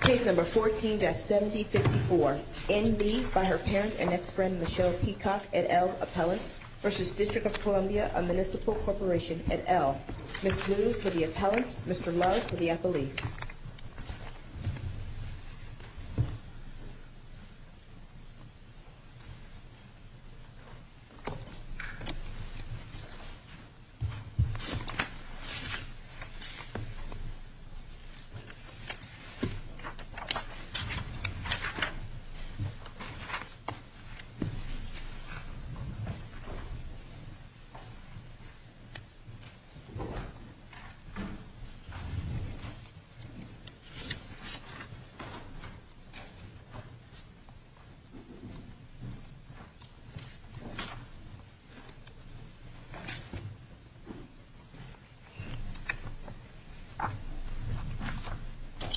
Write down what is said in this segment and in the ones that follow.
Case number 14-7054, NB by her parent and ex-friend Michelle Peacock, et al., Appellants, v. District of Columbia & Municipal Corporation, et al. Ms. Liu for the Appellants, Mr. Lowe for the Appellees. Thank you, Mr. Peacock.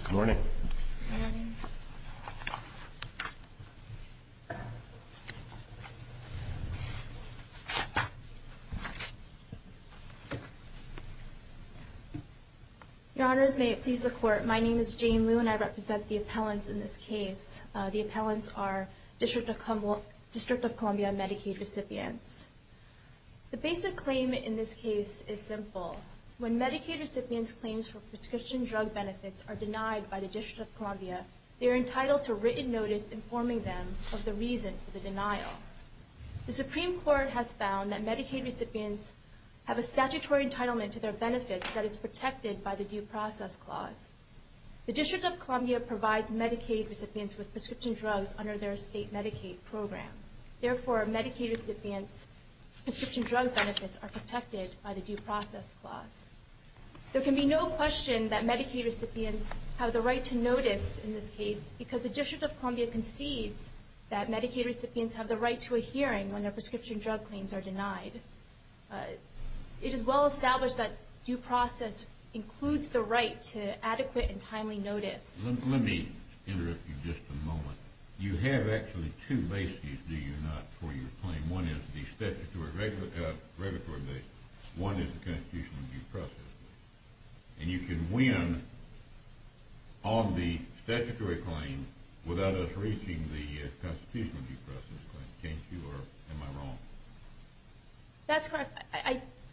Good morning. Good morning. Your Honors, may it please the Court, my name is Jane Liu and I represent the Appellants in this case. The Appellants are District of Columbia Medicaid recipients. The basic claim in this case is simple. When Medicaid recipients' claims for prescription drug benefits are denied by the District of Columbia, they are entitled to written notice informing them of the reason for the denial. The Supreme Court has found that Medicaid recipients have a statutory entitlement to their benefits that is protected by the Due Process Clause. The District of Columbia provides Medicaid recipients with prescription drugs under their state Medicaid program. Therefore, Medicaid recipients' prescription drug benefits are protected by the Due Process Clause. There can be no question that Medicaid recipients have the right to notice in this case because the District of Columbia concedes that Medicaid recipients have the right to a hearing when their prescription drug claims are denied. It is well established that due process includes the right to adequate and timely notice. Let me interrupt you just a moment. You have actually two bases, do you not, for your claim. One is the statutory regulatory basis. One is the Constitutional Due Process Clause. And you can win on the statutory claim without us reaching the Constitutional Due Process Clause. Am I wrong? That's correct.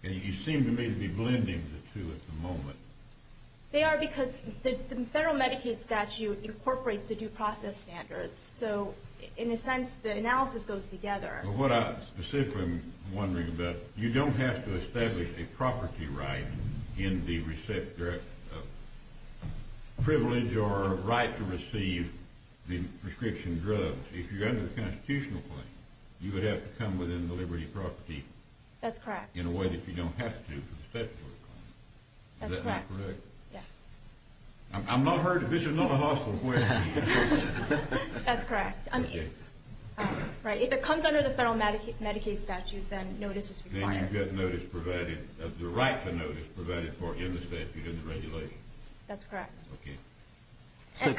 You seem to me to be blending the two at the moment. They are because the federal Medicaid statute incorporates the due process standards. So, in a sense, the analysis goes together. What I specifically am wondering about, you don't have to establish a property right in the receipt of privilege or right to receive the prescription drugs. If you're under the Constitutional claim, you would have to come within the liberty of property. That's correct. In a way that you don't have to for the statutory claim. That's correct. Is that not correct? Yes. I'm not hurt if this is not a hospital. That's correct. Okay. Right. If it comes under the federal Medicaid statute, then notice is required. Then you've got notice provided, the right to notice provided for in the statute and the regulations. That's correct. Okay. So,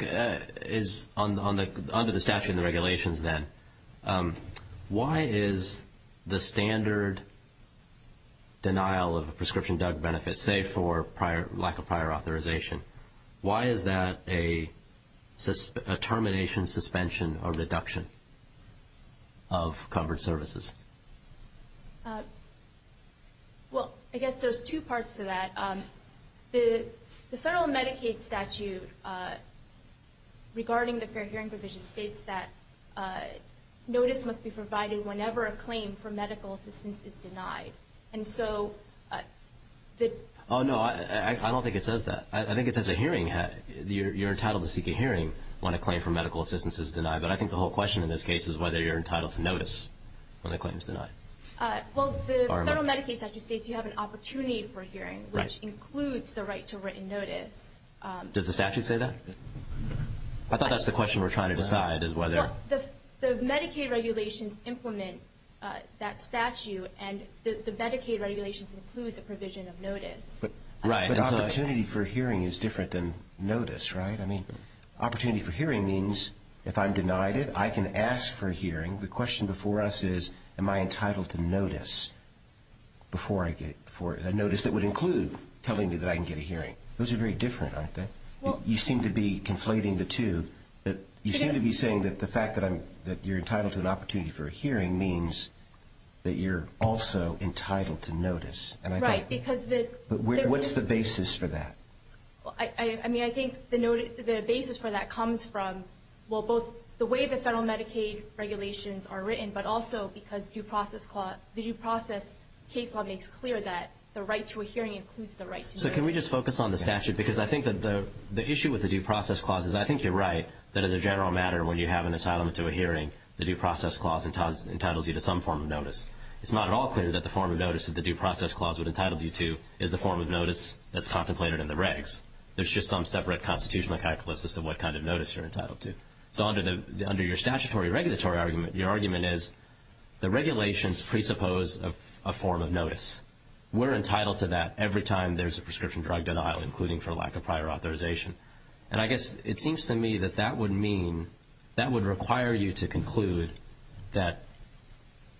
under the statute and the regulations, then, why is the standard denial of a prescription drug benefit, say for lack of prior authorization, why is that a termination, suspension, or reduction of covered services? Well, I guess there's two parts to that. The federal Medicaid statute, regarding the fair hearing provision, states that notice must be provided whenever a claim for medical assistance is denied. And so the – Oh, no. I don't think it says that. I think it says a hearing, you're entitled to seek a hearing when a claim for medical assistance is denied. But I think the whole question in this case is whether you're entitled to notice when a claim is denied. Right. Which includes the right to written notice. Does the statute say that? I thought that's the question we're trying to decide is whether – Well, the Medicaid regulations implement that statute, and the Medicaid regulations include the provision of notice. Right. But opportunity for hearing is different than notice, right? I mean, opportunity for hearing means if I'm denied it, I can ask for a hearing. The question before us is, am I entitled to notice before I get – a notice that would include telling me that I can get a hearing? Those are very different, aren't they? You seem to be conflating the two. You seem to be saying that the fact that you're entitled to an opportunity for a hearing means that you're also entitled to notice. Right, because the – What's the basis for that? I mean, I think the basis for that comes from, well, both the way the federal Medicaid regulations are written, but also because due process case law makes clear that the right to a hearing includes the right to notice. So can we just focus on the statute? Because I think that the issue with the due process clause is I think you're right that as a general matter, when you have an entitlement to a hearing, the due process clause entitles you to some form of notice. It's not at all clear that the form of notice that the due process clause would entitle you to is the form of notice that's contemplated in the regs. There's just some separate constitutional calculus as to what kind of notice you're entitled to. So under your statutory regulatory argument, your argument is the regulations presuppose a form of notice. We're entitled to that every time there's a prescription drug denial, including for lack of prior authorization. And I guess it seems to me that that would mean that would require you to conclude that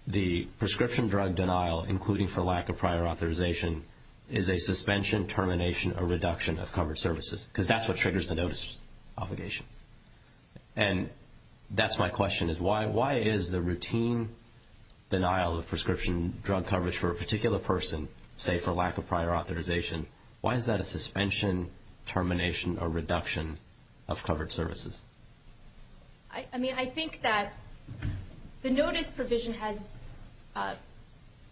the prescription drug denial, including for lack of prior authorization, is a suspension, termination, or reduction of covered services, because that's what triggers the notice obligation. And that's my question is why is the routine denial of prescription drug coverage for a particular person, say for lack of prior authorization, why is that a suspension, termination, or reduction of covered services? I mean, I think that the notice provision has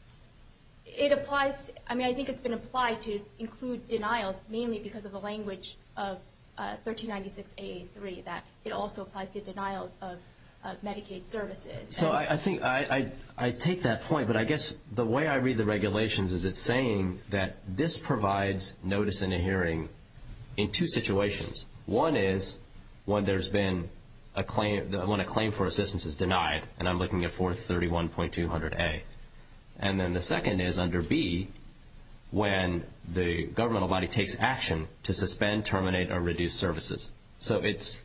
– it applies – I mean, I think it's been applied to include denials, mainly because of the language of 1396AA3, that it also applies to denials of Medicaid services. So I take that point, but I guess the way I read the regulations is it's saying that this provides notice in a hearing in two situations. One is when a claim for assistance is denied, and I'm looking at 431.200A. And then the second is under B, when the governmental body takes action to suspend, terminate, or reduce services. So it's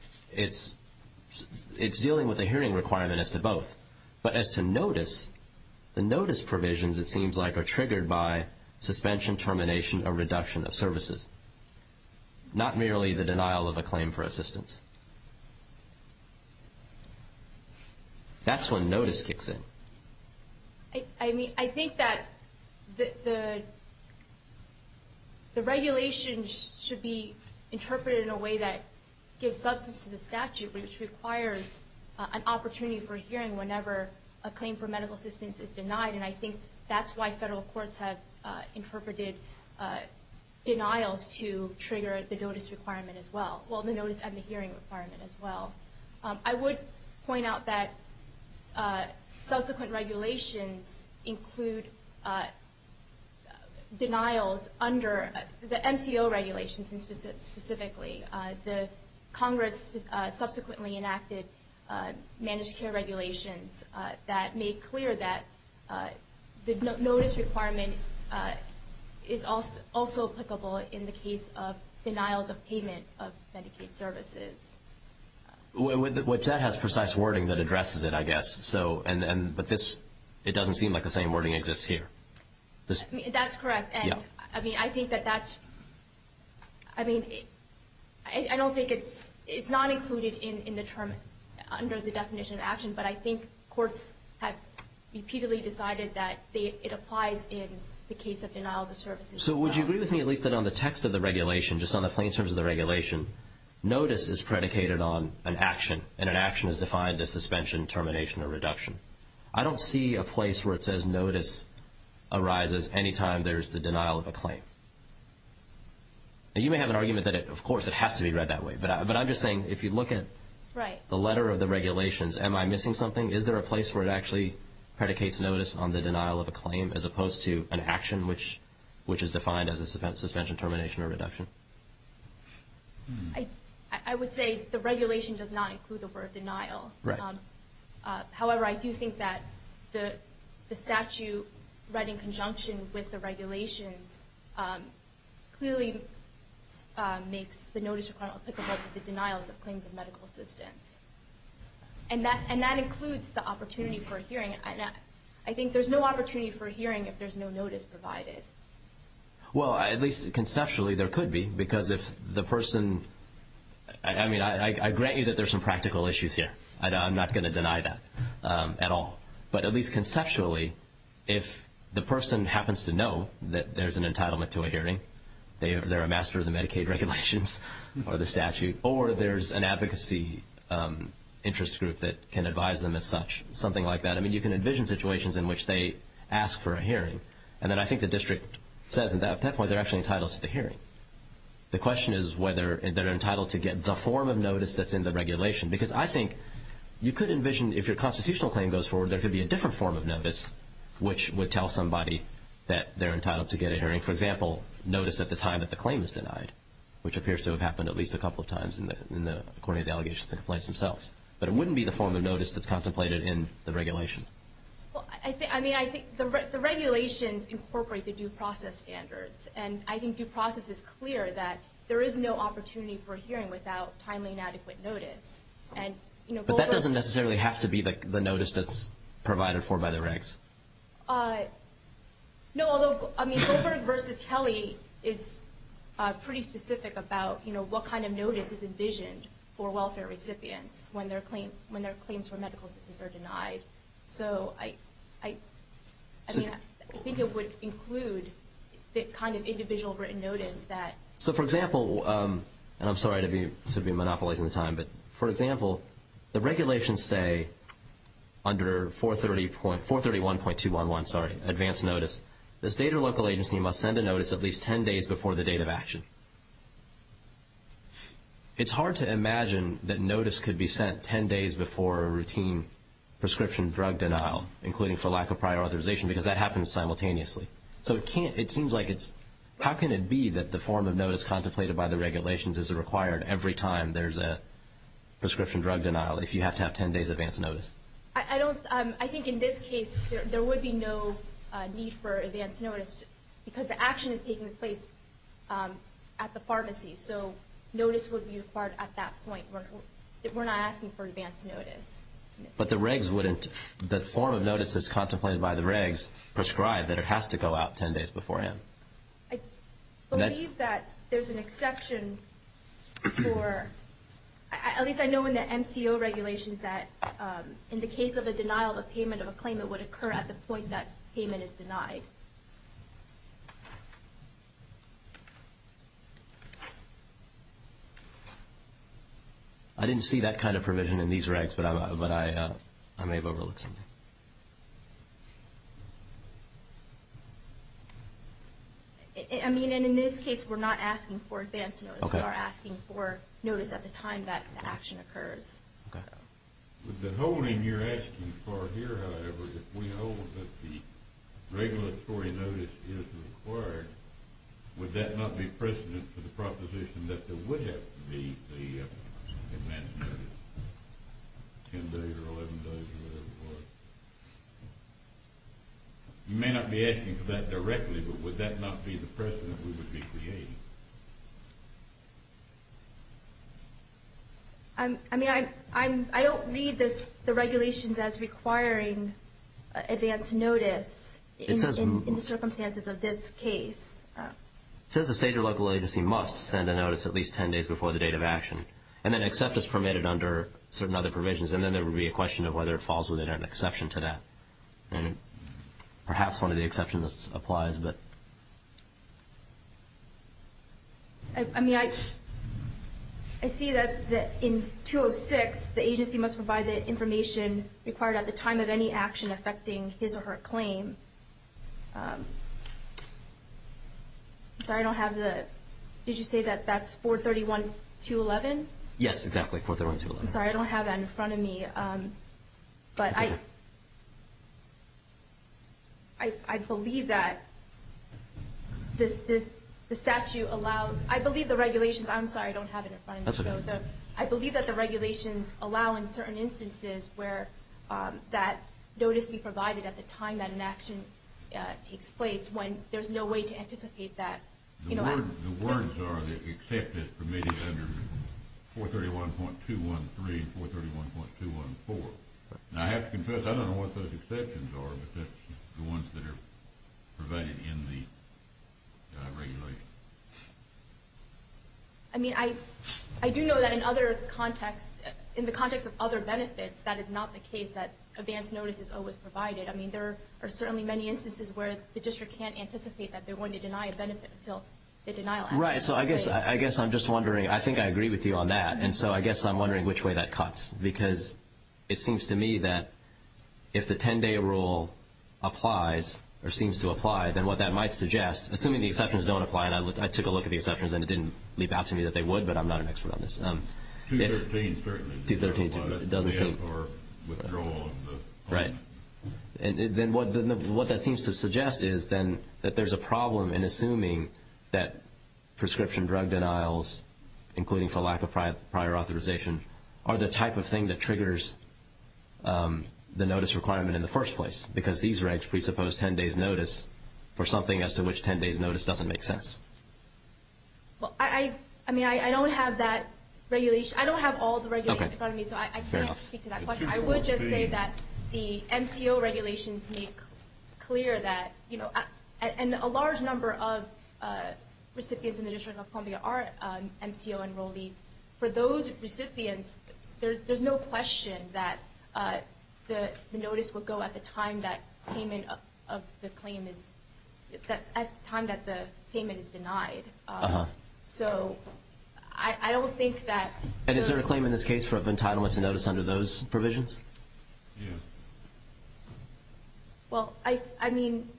dealing with a hearing requirement as to both. But as to notice, the notice provisions, it seems like, are triggered by suspension, termination, or reduction of services, not merely the denial of a claim for assistance. That's when notice kicks in. I mean, I think that the regulations should be interpreted in a way that gives substance to the statute, which requires an opportunity for hearing whenever a claim for medical assistance is denied. And I think that's why federal courts have interpreted denials to trigger the notice requirement as well – well, the notice and the hearing requirement as well. I would point out that subsequent regulations include denials under the MCO regulations specifically. The Congress subsequently enacted managed care regulations that made clear that the notice requirement is also applicable in the case of denials of payment of Medicaid services. Which that has precise wording that addresses it, I guess. But it doesn't seem like the same wording exists here. That's correct. I mean, I think that that's – I mean, I don't think it's – it's not included in the term under the definition of action, but I think courts have repeatedly decided that it applies in the case of denials of services as well. So would you agree with me at least that on the text of the regulation, just on the plain terms of the regulation, notice is predicated on an action, and an action is defined as suspension, termination, or reduction. I don't see a place where it says notice arises any time there's the denial of a claim. Now, you may have an argument that, of course, it has to be read that way, but I'm just saying, if you look at the letter of the regulations, am I missing something? Is there a place where it actually predicates notice on the denial of a claim as opposed to an action, which is defined as a suspension, termination, or reduction? I would say the regulation does not include the word denial. Right. However, I do think that the statute read in conjunction with the regulations clearly makes the notice requirement applicable to the denials of claims of medical assistance. And that includes the opportunity for a hearing. I think there's no opportunity for a hearing if there's no notice provided. Well, at least conceptually there could be, because if the person – I mean, I grant you that there's some practical issues here. I'm not going to deny that at all. But at least conceptually, if the person happens to know that there's an entitlement to a hearing, they're a master of the Medicaid regulations or the statute, or there's an advocacy interest group that can advise them as such, something like that. I mean, you can envision situations in which they ask for a hearing, and then I think the district says at that point they're actually entitled to the hearing. The question is whether they're entitled to get the form of notice that's in the regulation, because I think you could envision, if your constitutional claim goes forward, there could be a different form of notice which would tell somebody that they're entitled to get a hearing. For example, notice at the time that the claim is denied, which appears to have happened at least a couple of times in the coordinated allegations and complaints themselves. But it wouldn't be the form of notice that's contemplated in the regulations. I mean, I think the regulations incorporate the due process standards, and I think due process is clear that there is no opportunity for a hearing without timely and adequate notice. But that doesn't necessarily have to be the notice that's provided for by the regs. No, although Goldberg v. Kelly is pretty specific about what kind of notice is envisioned for welfare recipients when their claims for medical assistance are denied. So I think it would include the kind of individual written notice that... So, for example, and I'm sorry to be monopolizing the time, but for example, the regulations say under 431.211, sorry, advance notice, the state or local agency must send a notice at least 10 days before the date of action. It's hard to imagine that notice could be sent 10 days before a routine prescription drug denial, including for lack of prior authorization, because that happens simultaneously. So it seems like it's... So you're saying that the form of notice contemplated by the regulations is required every time there's a prescription drug denial, if you have to have 10 days advance notice? I think in this case there would be no need for advance notice, because the action is taking place at the pharmacy. So notice would be required at that point. We're not asking for advance notice. But the regs wouldn't... The form of notice that's contemplated by the regs prescribe that it has to go out 10 days beforehand. I believe that there's an exception for... At least I know in the MCO regulations that in the case of a denial of a payment of a claim, it would occur at the point that payment is denied. Okay. I didn't see that kind of provision in these regs, but I may have overlooked something. I mean, and in this case we're not asking for advance notice. We are asking for notice at the time that the action occurs. Okay. With the holding you're asking for here, however, if we hold that the regulatory notice is required, would that not be precedent for the proposition that there would have to be the advance notice, 10 days or 11 days or whatever it was? You may not be asking for that directly, but would that not be the precedent we would be creating? I mean, I don't read the regulations as requiring advance notice in the circumstances of this case. It says the state or local agency must send a notice at least 10 days before the date of action, and then accept as permitted under certain other provisions, and then there would be a question of whether it falls within an exception to that. Perhaps one of the exceptions applies. I mean, I see that in 206 the agency must provide the information required at the time of any action affecting his or her claim. I'm sorry, I don't have the – did you say that that's 431-211? Yes, exactly, 431-211. I'm sorry, I don't have that in front of me. That's okay. I believe that the statute allows – I believe the regulations – I'm sorry, I don't have it in front of me. That's okay. I believe that the regulations allow in certain instances where that notice be provided at the time that an action takes place when there's no way to anticipate that. The words are that accept as permitted under 431.213 and 431.214. Now, I have to confess, I don't know what those exceptions are, but that's the ones that are provided in the regulations. I mean, I do know that in other contexts – in the context of other benefits, that is not the case that advance notice is always provided. I mean, there are certainly many instances where the district can't anticipate that they're going to deny a benefit until the denial happens. Right, so I guess I'm just wondering – I think I agree with you on that, and so I guess I'm wondering which way that cuts, because it seems to me that if the 10-day rule applies or seems to apply, then what that might suggest – assuming the exceptions don't apply, and I took a look at the exceptions and it didn't leap out to me that they would, but I'm not an expert on this. 213 certainly doesn't apply. 213 doesn't seem – Or withdrawal of the – Right, and then what that seems to suggest is then that there's a problem in assuming that prescription drug denials, including for lack of prior authorization, are the type of thing that triggers the notice requirement in the first place, because these regs presuppose 10-days notice for something as to which 10-days notice doesn't make sense. Well, I mean, I don't have that regulation – I don't have all the regulations in front of me, so I can't speak to that question. I would just say that the MCO regulations make clear that – and a large number of recipients in the District of Columbia are MCO enrollees. For those recipients, there's no question that the notice would go at the time that payment of the claim is – at the time that the payment is denied. So I don't think that – And is there a claim in this case of entitlement to notice under those provisions? Yeah. Well, I mean,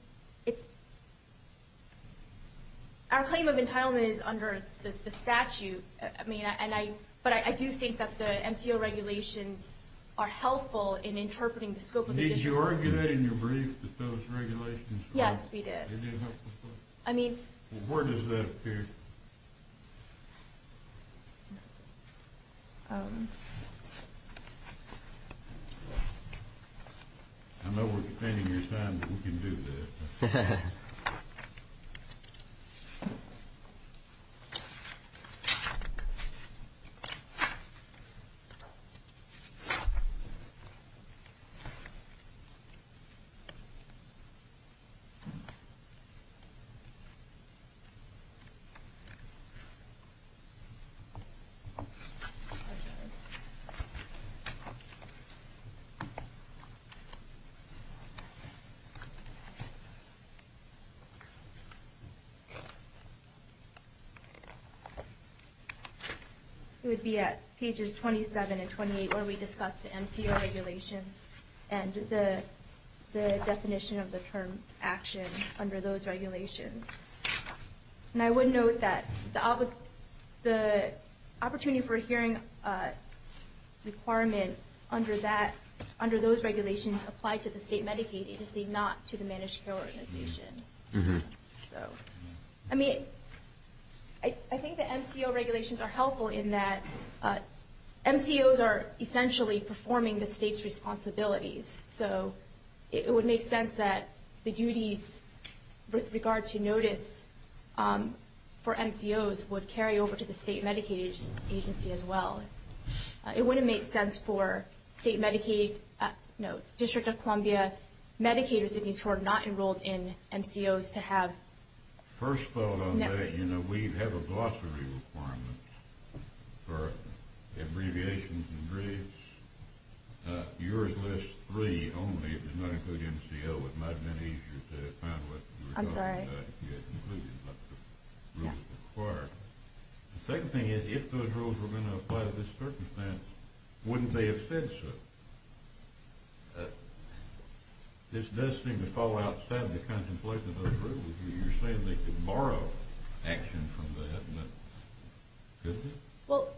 it's – our claim of entitlement is under the statute, but I do think that the MCO regulations are helpful in interpreting the scope of the – Did you argue that in your brief that those regulations – Yes, we did. They didn't help the scope? I mean – Well, where does that appear? I know we're defending your time, but we can do that. I apologize. It would be at pages 27 and 28 where we discuss the MCO regulations and the definition of the term action under those regulations. And I would note that the opportunity for a hearing requirement under that – under those regulations apply to the state Medicaid agency, not to the managed care organization. So, I mean, I think the MCO regulations are helpful in that MCOs are essentially performing the state's responsibilities. So, it would make sense that the duties with regard to notice for MCOs would carry over to the state Medicaid agency as well. It wouldn't make sense for state Medicaid – no, District of Columbia Medicaid recipients who are not enrolled in MCOs to have – First thought on that, you know, we have a glossary requirement for abbreviations and briefs. Yours lists three only. It does not include MCO. It might have been easier to find what – I'm sorry? Yeah, it included what the rules required. The second thing is, if those rules were going to apply to this circumstance, wouldn't they have said so? This does seem to fall outside the contemplation of those rules. You're saying they could borrow action from that, but couldn't they? Well,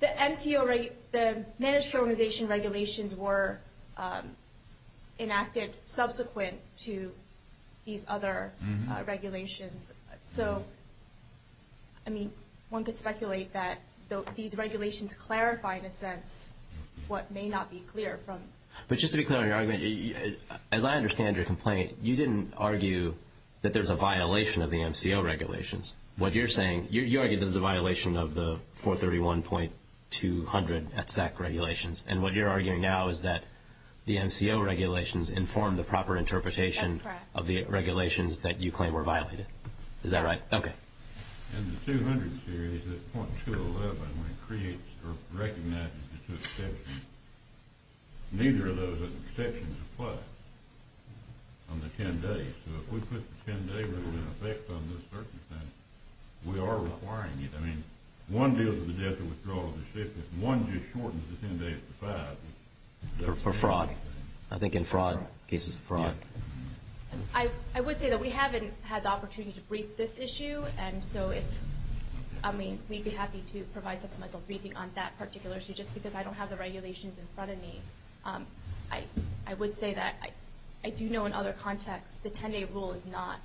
the managed care organization regulations were enacted subsequent to these other regulations. So, I mean, one could speculate that these regulations clarify, in a sense, what may not be clear from – But just to be clear on your argument, as I understand your complaint, you didn't argue that there's a violation of the MCO regulations. What you're saying – You argue there's a violation of the 431.200 ETSAC regulations, and what you're arguing now is that the MCO regulations inform the proper interpretation of the regulations that you claim were violated. Is that right? Okay. In the 200 series, the .211, when it creates or recognizes the two exceptions, neither of those exceptions apply on the 10 days. So if we put the 10-day rule in effect on this circumstance, we are requiring it. I mean, one deals with the death or withdrawal of the ship, if one just shortens the 10 days to five. Or fraud. I think in fraud, cases of fraud. I would say that we haven't had the opportunity to brief this issue, and so if – I mean, we'd be happy to provide something like a briefing on that particular issue. Just because I don't have the regulations in front of me, I would say that I do know in other contexts the 10-day rule does not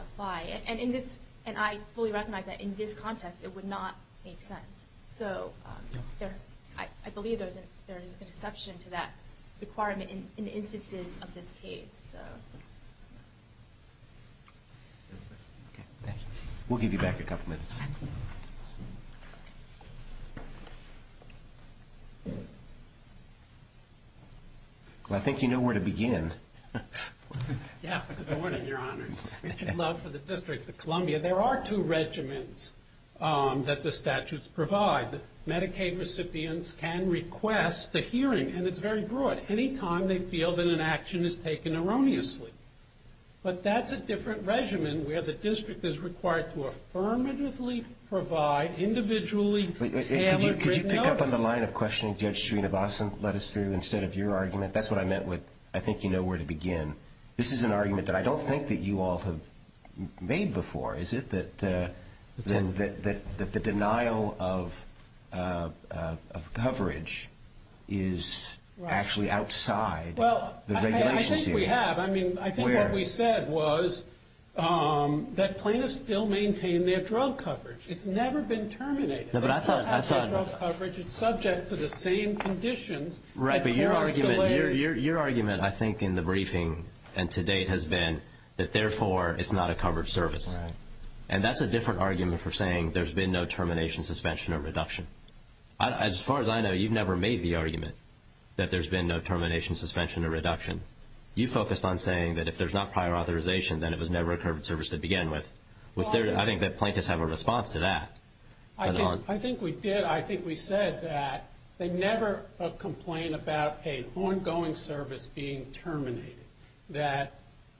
apply. And I fully recognize that in this context it would not make sense. So I believe there is an exception to that requirement in instances of this case. Thank you. We'll give you back a couple minutes. Well, I think you know where to begin. Yeah. Good morning, Your Honors. Richard Love for the District of Columbia. There are two regimens that the statutes provide. Medicaid recipients can request a hearing, and it's very broad. Anytime they feel that an action is taken erroneously. But that's a different regimen where the district is required to affirmatively provide individually tailored written notice. Could you pick up on the line of questioning Judge Srinivasan led us through instead of your argument? That's what I meant with, I think you know where to begin. This is an argument that I don't think that you all have made before, is it? That the denial of coverage is actually outside the regulations here. Well, I think we have. I mean, I think what we said was that plaintiffs still maintain their drug coverage. It's never been terminated. It's not actually drug coverage. It's subject to the same conditions. Right, but your argument I think in the briefing and to date has been that, therefore, it's not a covered service. And that's a different argument for saying there's been no termination, suspension, or reduction. As far as I know, you've never made the argument that there's been no termination, suspension, or reduction. You focused on saying that if there's not prior authorization, then it was never a covered service to begin with. I think that plaintiffs have a response to that. I think we did. I think we said that they never complain about an ongoing service being terminated. Where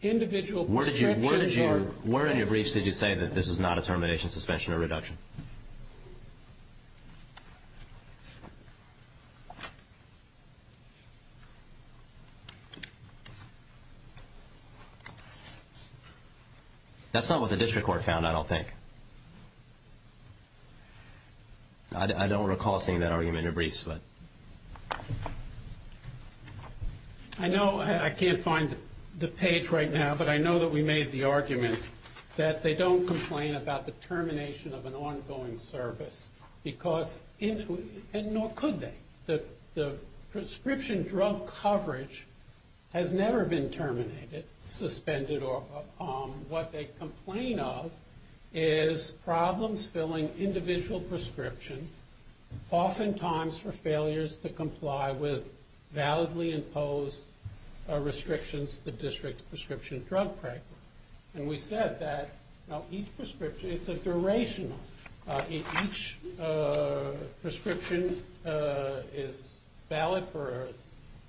in your briefs did you say that this is not a termination, suspension, or reduction? That's not what the district court found, I don't think. I don't recall seeing that argument in your briefs. Go ahead. I know I can't find the page right now, but I know that we made the argument that they don't complain about the termination of an ongoing service, and nor could they. The prescription drug coverage has never been terminated, suspended, or what they complain of is problems filling individual prescriptions, oftentimes for failures to comply with validly imposed restrictions, the district's prescription drug program. We said that each prescription, it's a duration. Each prescription is valid for a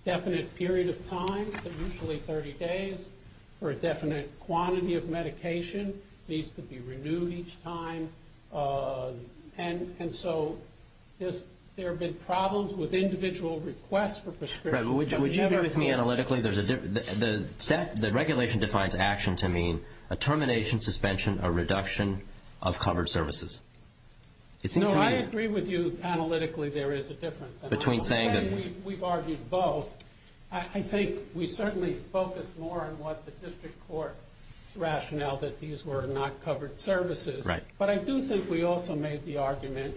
definite period of time, usually 30 days, for a definite quantity of medication. It needs to be renewed each time. And so there have been problems with individual requests for prescriptions. Would you agree with me analytically? The regulation defines action to mean a termination, suspension, or reduction of covered services. No, I agree with you analytically there is a difference. We've argued both. I think we certainly focus more on what the district court's rationale, that these were not covered services. But I do think we also made the argument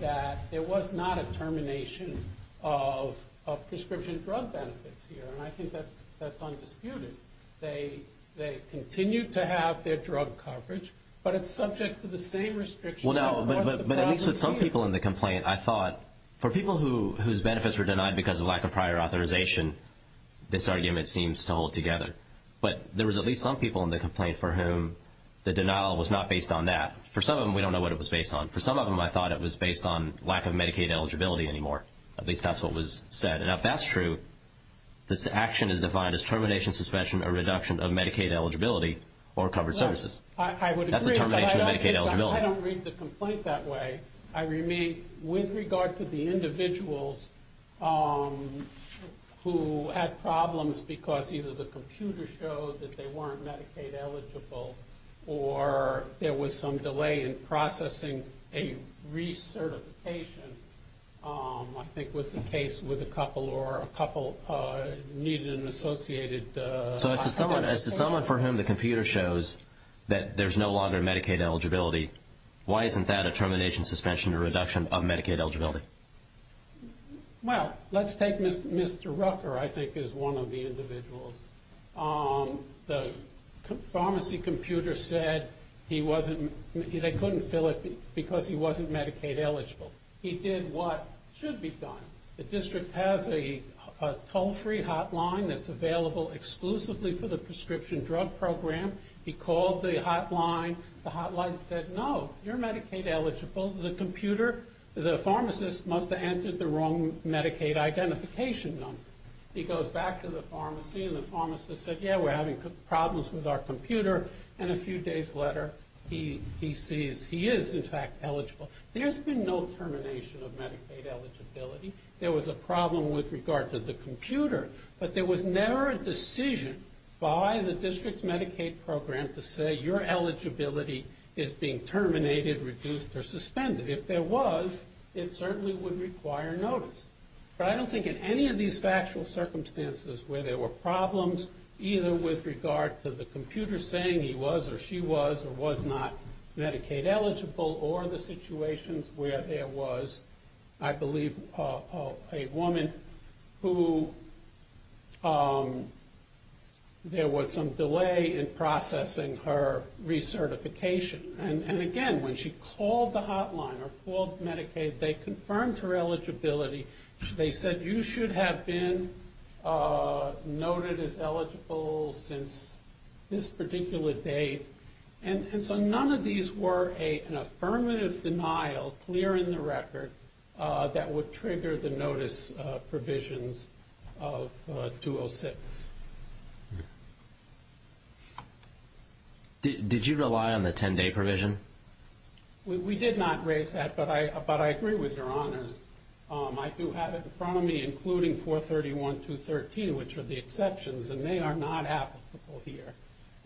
that there was not a termination of prescription drug benefits here, and I think that's undisputed. They continue to have their drug coverage, but it's subject to the same restrictions. Well, no, but at least with some people in the complaint, I thought, for people whose benefits were denied because of lack of prior authorization, this argument seems to hold together. But there was at least some people in the complaint for whom the denial was not based on that. For some of them, we don't know what it was based on. For some of them, I thought it was based on lack of Medicaid eligibility anymore. At least that's what was said. And if that's true, this action is defined as termination, suspension, or reduction of Medicaid eligibility or covered services. I would agree. That's a termination of Medicaid eligibility. I don't read the complaint that way. With regard to the individuals who had problems because either the computer showed that they weren't Medicaid eligible or there was some delay in processing a recertification, I think was the case with a couple or a couple needed an associated hospitalization. So as to someone for whom the computer shows that there's no longer Medicaid eligibility, why isn't that a termination, suspension, or reduction of Medicaid eligibility? Well, let's take Mr. Rucker, I think, as one of the individuals. The pharmacy computer said they couldn't fill it because he wasn't Medicaid eligible. He did what should be done. The district has a toll-free hotline that's available exclusively for the prescription drug program. He called the hotline. The hotline said, no, you're Medicaid eligible. The computer, the pharmacist must have entered the wrong Medicaid identification number. He goes back to the pharmacy, and the pharmacist said, yeah, we're having problems with our computer. And a few days later, he sees he is, in fact, eligible. There's been no termination of Medicaid eligibility. There was a problem with regard to the computer. But there was never a decision by the district's Medicaid program to say, your eligibility is being terminated, reduced, or suspended. If there was, it certainly would require notice. But I don't think in any of these factual circumstances where there were problems, either with regard to the computer saying he was or she was or was not Medicaid eligible, or the situations where there was, I believe, a woman who there was some delay in processing her recertification. And, again, when she called the hotline or called Medicaid, they confirmed her eligibility. They said, you should have been noted as eligible since this particular date. And so none of these were an affirmative denial, clear in the record, that would trigger the notice provisions of 206. Did you rely on the 10-day provision? We did not raise that, but I agree with your honors. I do have it in front of me, including 431.213, which are the exceptions, and they are not applicable here.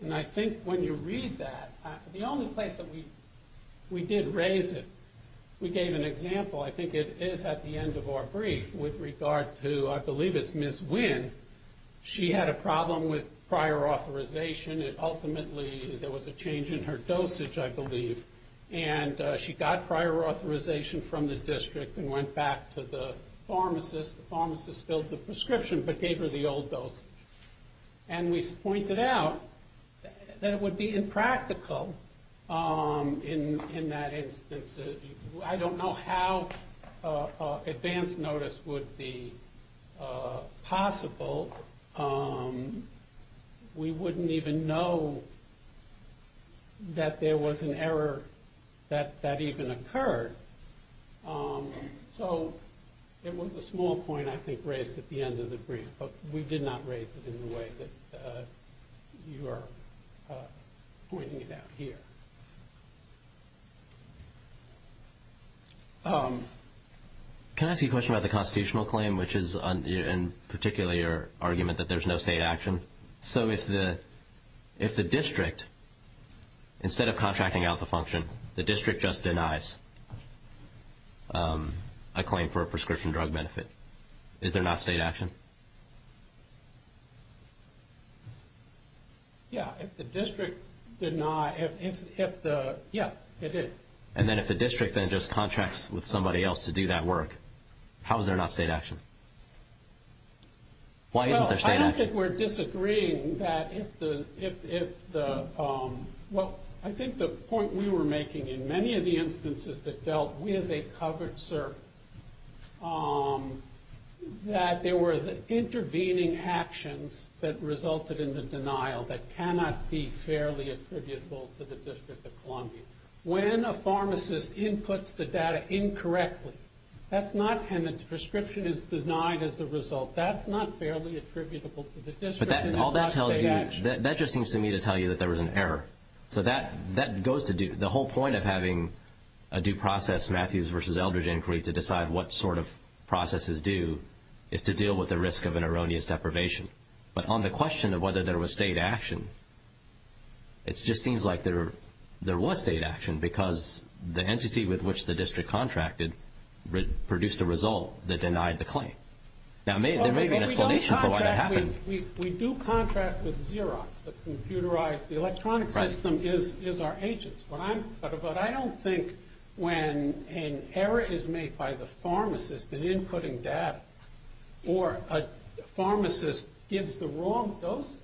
And I think when you read that, the only place that we did raise it, we gave an example. I think it is at the end of our brief with regard to, I believe it's Ms. Wynn. She had a problem with prior authorization. Ultimately, there was a change in her dosage, I believe, and she got prior authorization from the district and went back to the pharmacist. The pharmacist filled the prescription but gave her the old dose. And we pointed out that it would be impractical in that instance. I don't know how advance notice would be possible. We wouldn't even know that there was an error that even occurred. So it was a small point, I think, raised at the end of the brief, but we did not raise it in the way that you are pointing it out here. Can I ask you a question about the constitutional claim, which is in particular your argument that there's no state action? So if the district, instead of contracting out the function, the district just denies a claim for a prescription drug benefit, is there not state action? Yeah, if the district did not, yeah, it is. And then if the district then just contracts with somebody else to do that work, how is there not state action? Why isn't there state action? Well, I don't think we're disagreeing that if the – well, I think the point we were making in many of the instances that dealt with a covered service, that there were intervening actions that resulted in the denial that cannot be fairly attributable to the District of Columbia. When a pharmacist inputs the data incorrectly, that's not – and the prescription is denied as a result. That's not fairly attributable to the district. But all that tells you – that just seems to me to tell you that there was an error. So that goes to do – the whole point of having a due process Matthews versus Eldridge inquiry to decide what sort of process is due is to deal with the risk of an erroneous deprivation. But on the question of whether there was state action, it just seems like there was state action because the entity with which the district contracted produced a result that denied the claim. Now, there may be an explanation for why that happened. We do contract with Xerox to computerize. The electronic system is our agents. But I don't think when an error is made by the pharmacist in inputting data or a pharmacist gives the wrong dose,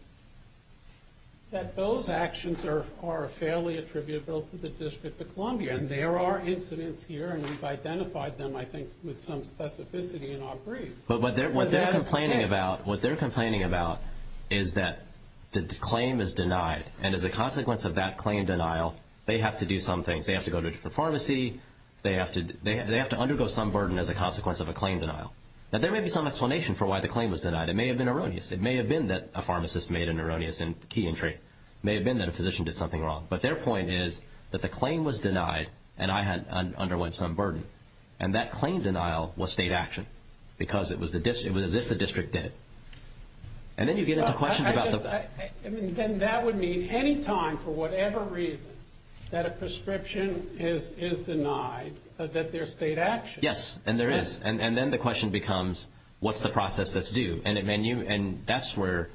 that those actions are fairly attributable to the District of Columbia. And there are incidents here, and we've identified them, I think, with some specificity in our brief. But what they're complaining about is that the claim is denied. And as a consequence of that claim denial, they have to do some things. They have to go to a different pharmacy. They have to undergo some burden as a consequence of a claim denial. Now, there may be some explanation for why the claim was denied. It may have been erroneous. It may have been that a pharmacist made an erroneous key entry. It may have been that a physician did something wrong. But their point is that the claim was denied, and I underwent some burden. And that claim denial was state action because it was as if the district did it. And then you get into questions about the… Then that would mean any time, for whatever reason, that a prescription is denied, that there's state action. Yes, and there is. And then the question becomes, what's the process that's due? And that's where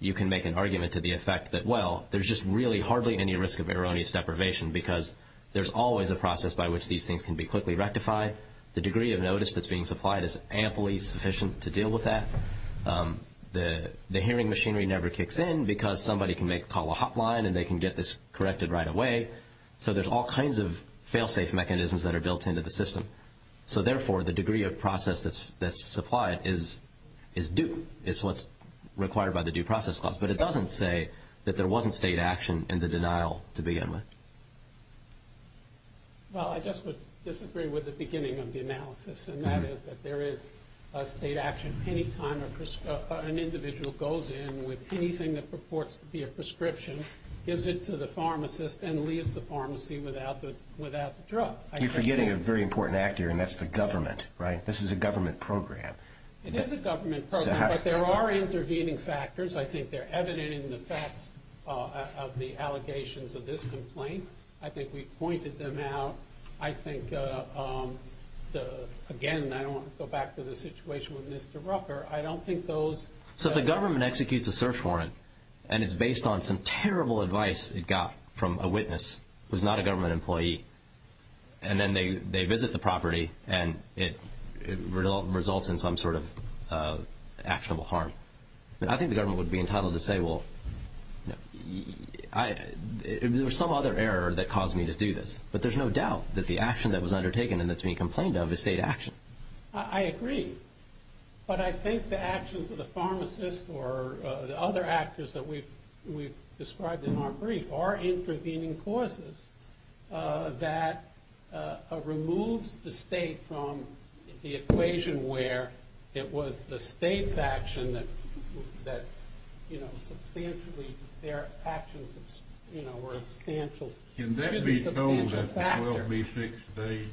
you can make an argument to the effect that, well, there's just really hardly any risk of erroneous deprivation because there's always a process by which these things can be quickly rectified. The degree of notice that's being supplied is amply sufficient to deal with that. The hearing machinery never kicks in because somebody can call a hotline, and they can get this corrected right away. So there's all kinds of fail-safe mechanisms that are built into the system. So, therefore, the degree of process that's supplied is due. It's what's required by the Due Process Clause. But it doesn't say that there wasn't state action in the denial to begin with. Well, I just would disagree with the beginning of the analysis, and that is that there is a state action any time an individual goes in with anything that purports to be a prescription, gives it to the pharmacist, and leaves the pharmacy without the drug. You're forgetting a very important actor, and that's the government, right? This is a government program. It is a government program, but there are intervening factors. I think they're evident in the facts of the allegations of this complaint. I think we've pointed them out. I think, again, I don't want to go back to the situation with Mr. Rucker. So if the government executes a search warrant, and it's based on some terrible advice it got from a witness who's not a government employee, and then they visit the property, and it results in some sort of actionable harm, I think the government would be entitled to say, well, there was some other error that caused me to do this. But there's no doubt that the action that was undertaken and that's being complained of is state action. I agree. But I think the actions of the pharmacist or the other actors that we've described in our brief are intervening causes that removes the state from the equation where it was the state's action that, you know, substantially their actions were substantial. Can that be told at the 12B6 stage?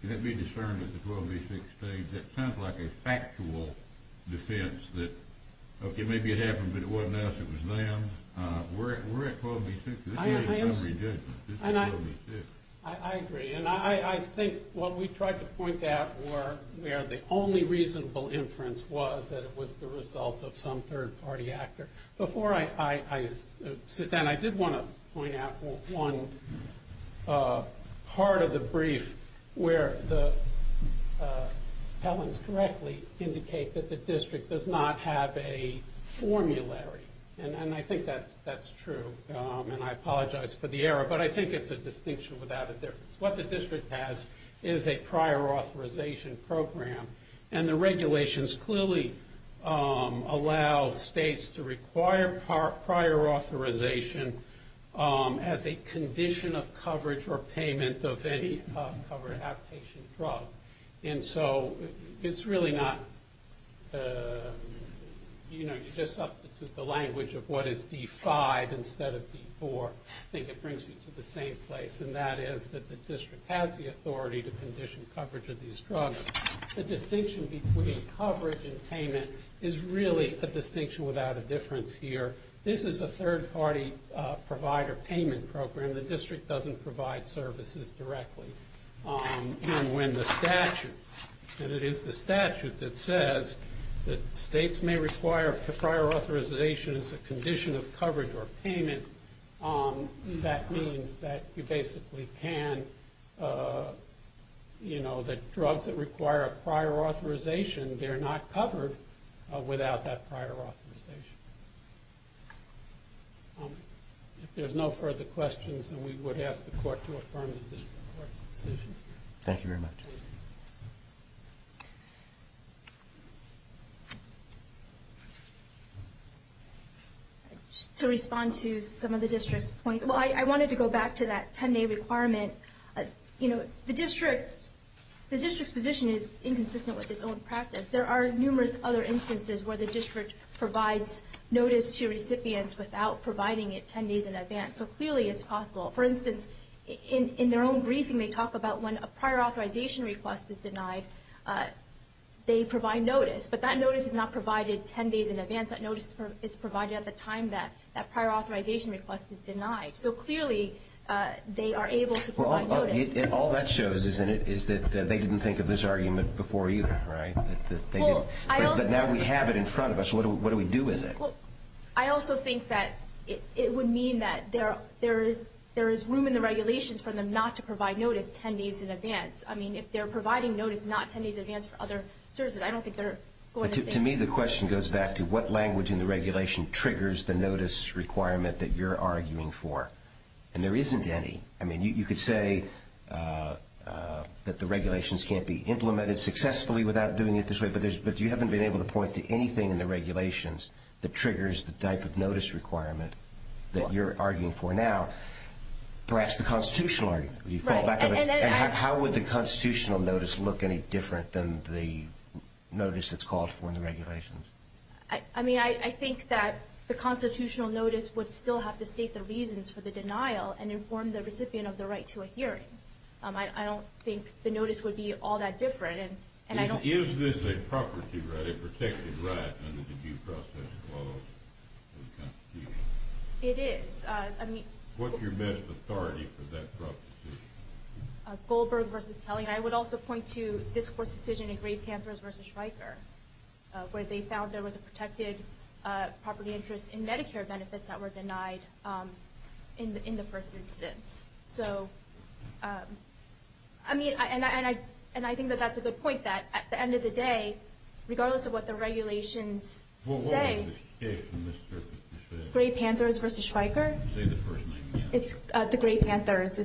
Can that be discerned at the 12B6 stage? That sounds like a factual defense that, okay, maybe it happened, but it wasn't us, it was them. We're at 12B6. This is not a rejection. This is 12B6. I agree. And I think what we tried to point out where the only reasonable inference was that it was the result of some third-party actor. Before I sit down, I did want to point out one part of the brief where the appellants correctly indicate that the district does not have a formulary. And I think that's true, and I apologize for the error, but I think it's a distinction without a difference. What the district has is a prior authorization program, and the regulations clearly allow states to require prior authorization as a condition of coverage or payment of any covered outpatient drug. And so it's really not, you know, you just substitute the language of what is D5 instead of D4. I think it brings you to the same place, and that is that the district has the authority to condition coverage of these drugs. The distinction between coverage and payment is really a distinction without a difference here. This is a third-party provider payment program. The district doesn't provide services directly. And when the statute, and it is the statute that says that states may require prior authorization as a condition of coverage or payment, that means that you basically can, you know, that drugs that require a prior authorization, they're not covered without that prior authorization. If there's no further questions, then we would ask the court to affirm the district court's decision. Thank you very much. Just to respond to some of the district's points, well, I wanted to go back to that 10-day requirement. You know, the district's position is inconsistent with its own practice. There are numerous other instances where the district provides notice to recipients without providing it 10 days in advance. So clearly it's possible. For instance, in their own briefing, they talk about when a prior authorization request is denied, they provide notice. But that notice is not provided 10 days in advance. That notice is provided at the time that that prior authorization request is denied. So clearly they are able to provide notice. All that shows is that they didn't think of this argument before either, right? But now we have it in front of us. What do we do with it? I also think that it would mean that there is room in the regulations for them not to provide notice 10 days in advance. I mean, if they're providing notice not 10 days in advance for other services, I don't think they're going to say. To me, the question goes back to what language in the regulation triggers the notice requirement that you're arguing for. And there isn't any. I mean, you could say that the regulations can't be implemented successfully without doing it this way, but you haven't been able to point to anything in the regulations that triggers the type of notice requirement that you're arguing for now. Perhaps the constitutional argument. How would the constitutional notice look any different than the notice that's called for in the regulations? I mean, I think that the constitutional notice would still have to state the reasons for the denial and inform the recipient of the right to a hearing. I don't think the notice would be all that different. Is this a property right, a protected right under the due process of the Constitution? It is. What's your measure of authority for that property? Goldberg v. Kelly. And I would also point to this Court's decision in Gray Panthers v. Schweiker, where they found there was a protected property interest in Medicare benefits that were denied in the first instance. So, I mean, and I think that that's a good point, that at the end of the day, regardless of what the regulations say. Well, what was the case in this case? Gray Panthers v. Schweiker? It's the Gray Panthers.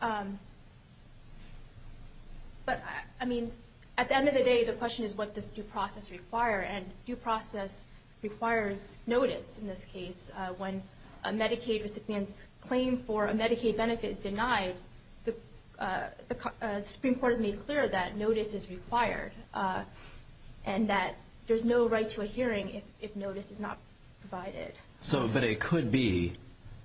But, I mean, at the end of the day, the question is what does due process require, and due process requires notice in this case. When a Medicaid recipient's claim for a Medicaid benefit is denied, the Supreme Court has made clear that notice is required and that there's no right to a hearing if notice is not provided. So, but it could be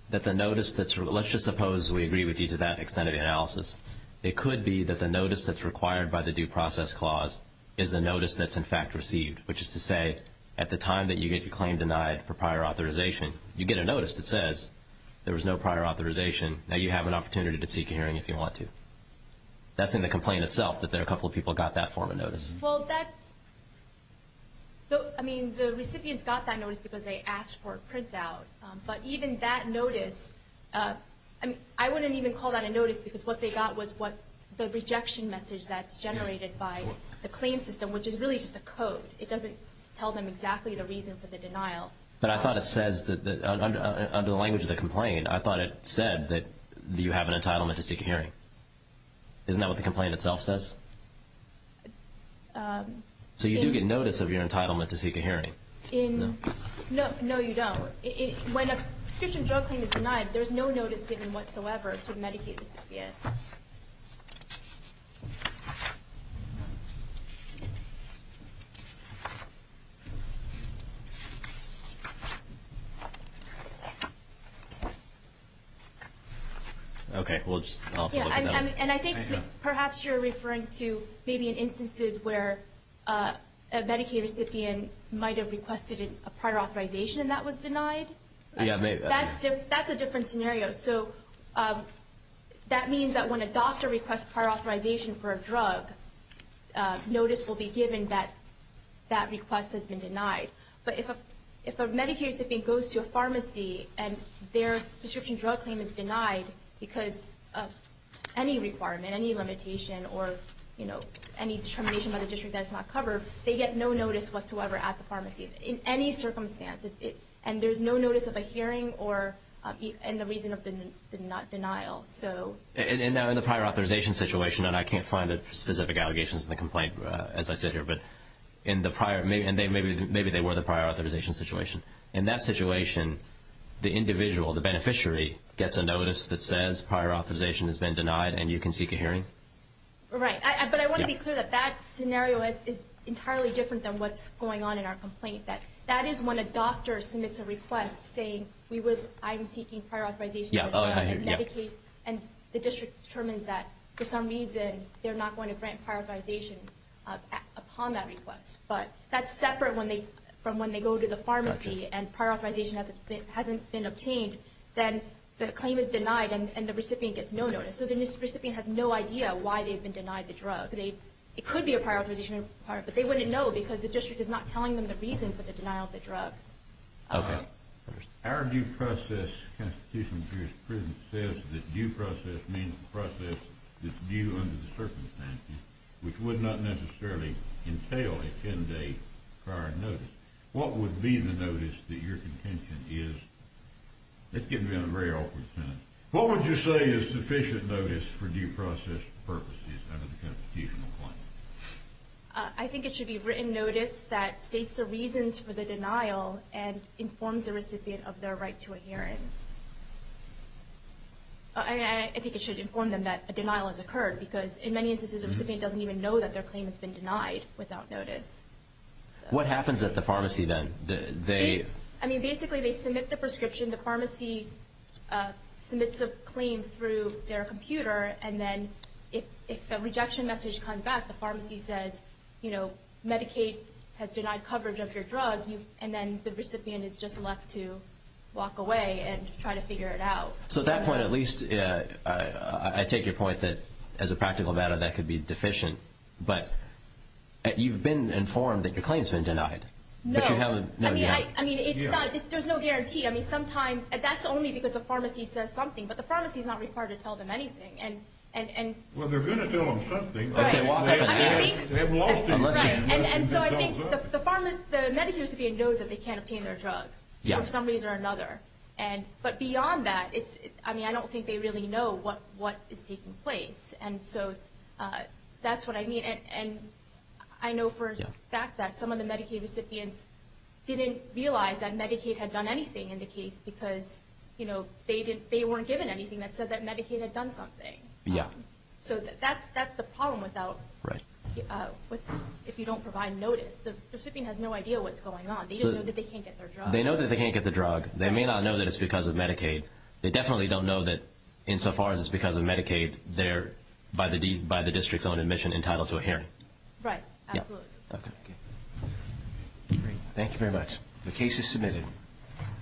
that the notice that's required. Let's just suppose we agree with you to that extent of the analysis. It could be that the notice that's required by the due process clause is the notice that's in fact received, which is to say at the time that you get your claim denied for prior authorization, you get a notice that says there was no prior authorization, now you have an opportunity to seek a hearing if you want to. That's in the complaint itself, that a couple of people got that form of notice. Well, that's, I mean, the recipients got that notice because they asked for a printout. But even that notice, I mean, I wouldn't even call that a notice because what they got was the rejection message that's generated by the claim system, which is really just a code. It doesn't tell them exactly the reason for the denial. But I thought it says, under the language of the complaint, I thought it said that you have an entitlement to seek a hearing. Isn't that what the complaint itself says? So you do get notice of your entitlement to seek a hearing? No. No, you don't. When a prescription drug claim is denied, there's no notice given whatsoever to the Medicaid recipient. Okay. And I think perhaps you're referring to maybe in instances where a Medicaid recipient might have requested a prior authorization and that was denied? Yeah, maybe. That's a different scenario. So that means that when a doctor requests prior authorization for a drug, notice will be given that that request has been denied. But if a Medicaid recipient goes to a pharmacy and their prescription drug claim is denied because of any requirement, any limitation, or any determination by the district that it's not covered, they get no notice whatsoever at the pharmacy in any circumstance. And there's no notice of a hearing and the reason of the denial. And now in the prior authorization situation, and I can't find the specific allegations in the complaint as I sit here, but maybe they were the prior authorization situation. In that situation, the individual, the beneficiary, gets a notice that says prior authorization has been denied and you can seek a hearing? Right. But I want to be clear that that scenario is entirely different than what's going on in our complaint. That is when a doctor submits a request saying I'm seeking prior authorization for a drug with Medicaid and the district determines that for some reason they're not going to grant prior authorization upon that request. But that's separate from when they go to the pharmacy and prior authorization hasn't been obtained, then the claim is denied and the recipient gets no notice. So the recipient has no idea why they've been denied the drug. It could be a prior authorization, but they wouldn't know Our due process Constitutional Jurisprudence says that due process means a process that's due under the circumstances, which would not necessarily entail a 10-day prior notice. What would be the notice that your contention is? That's getting to be a very awkward sentence. What would you say is sufficient notice for due process purposes under the Constitutional Claims? I think it should be written notice that states the reasons for the denial and informs the recipient of their right to a hearing. I think it should inform them that a denial has occurred because in many instances the recipient doesn't even know that their claim has been denied without notice. What happens at the pharmacy then? Basically they submit the prescription. The pharmacy submits the claim through their computer and then if a rejection message comes back, the pharmacy says Medicaid has denied coverage of your drug and then the recipient is just left to walk away and try to figure it out. So at that point at least I take your point that as a practical matter that could be deficient, but you've been informed that your claim has been denied. No. There's no guarantee. That's only because the pharmacy says something, but the pharmacy is not required to tell them anything. Well, they're going to tell them something. Right. Unless they've been told. So I think the Medicaid recipient knows that they can't obtain their drug for some reason or another. But beyond that, I don't think they really know what is taking place. So that's what I mean. I know for a fact that some of the Medicaid recipients didn't realize that Medicaid had done anything in the case because they weren't given anything that said that Medicaid had done something. So that's the problem if you don't provide notice. The recipient has no idea what's going on. They just know that they can't get their drug. They know that they can't get their drug. They may not know that it's because of Medicaid. They definitely don't know that insofar as it's because of Medicaid, they're by the district's own admission entitled to a hearing. Absolutely. Okay. Great. Thank you very much. The case is submitted.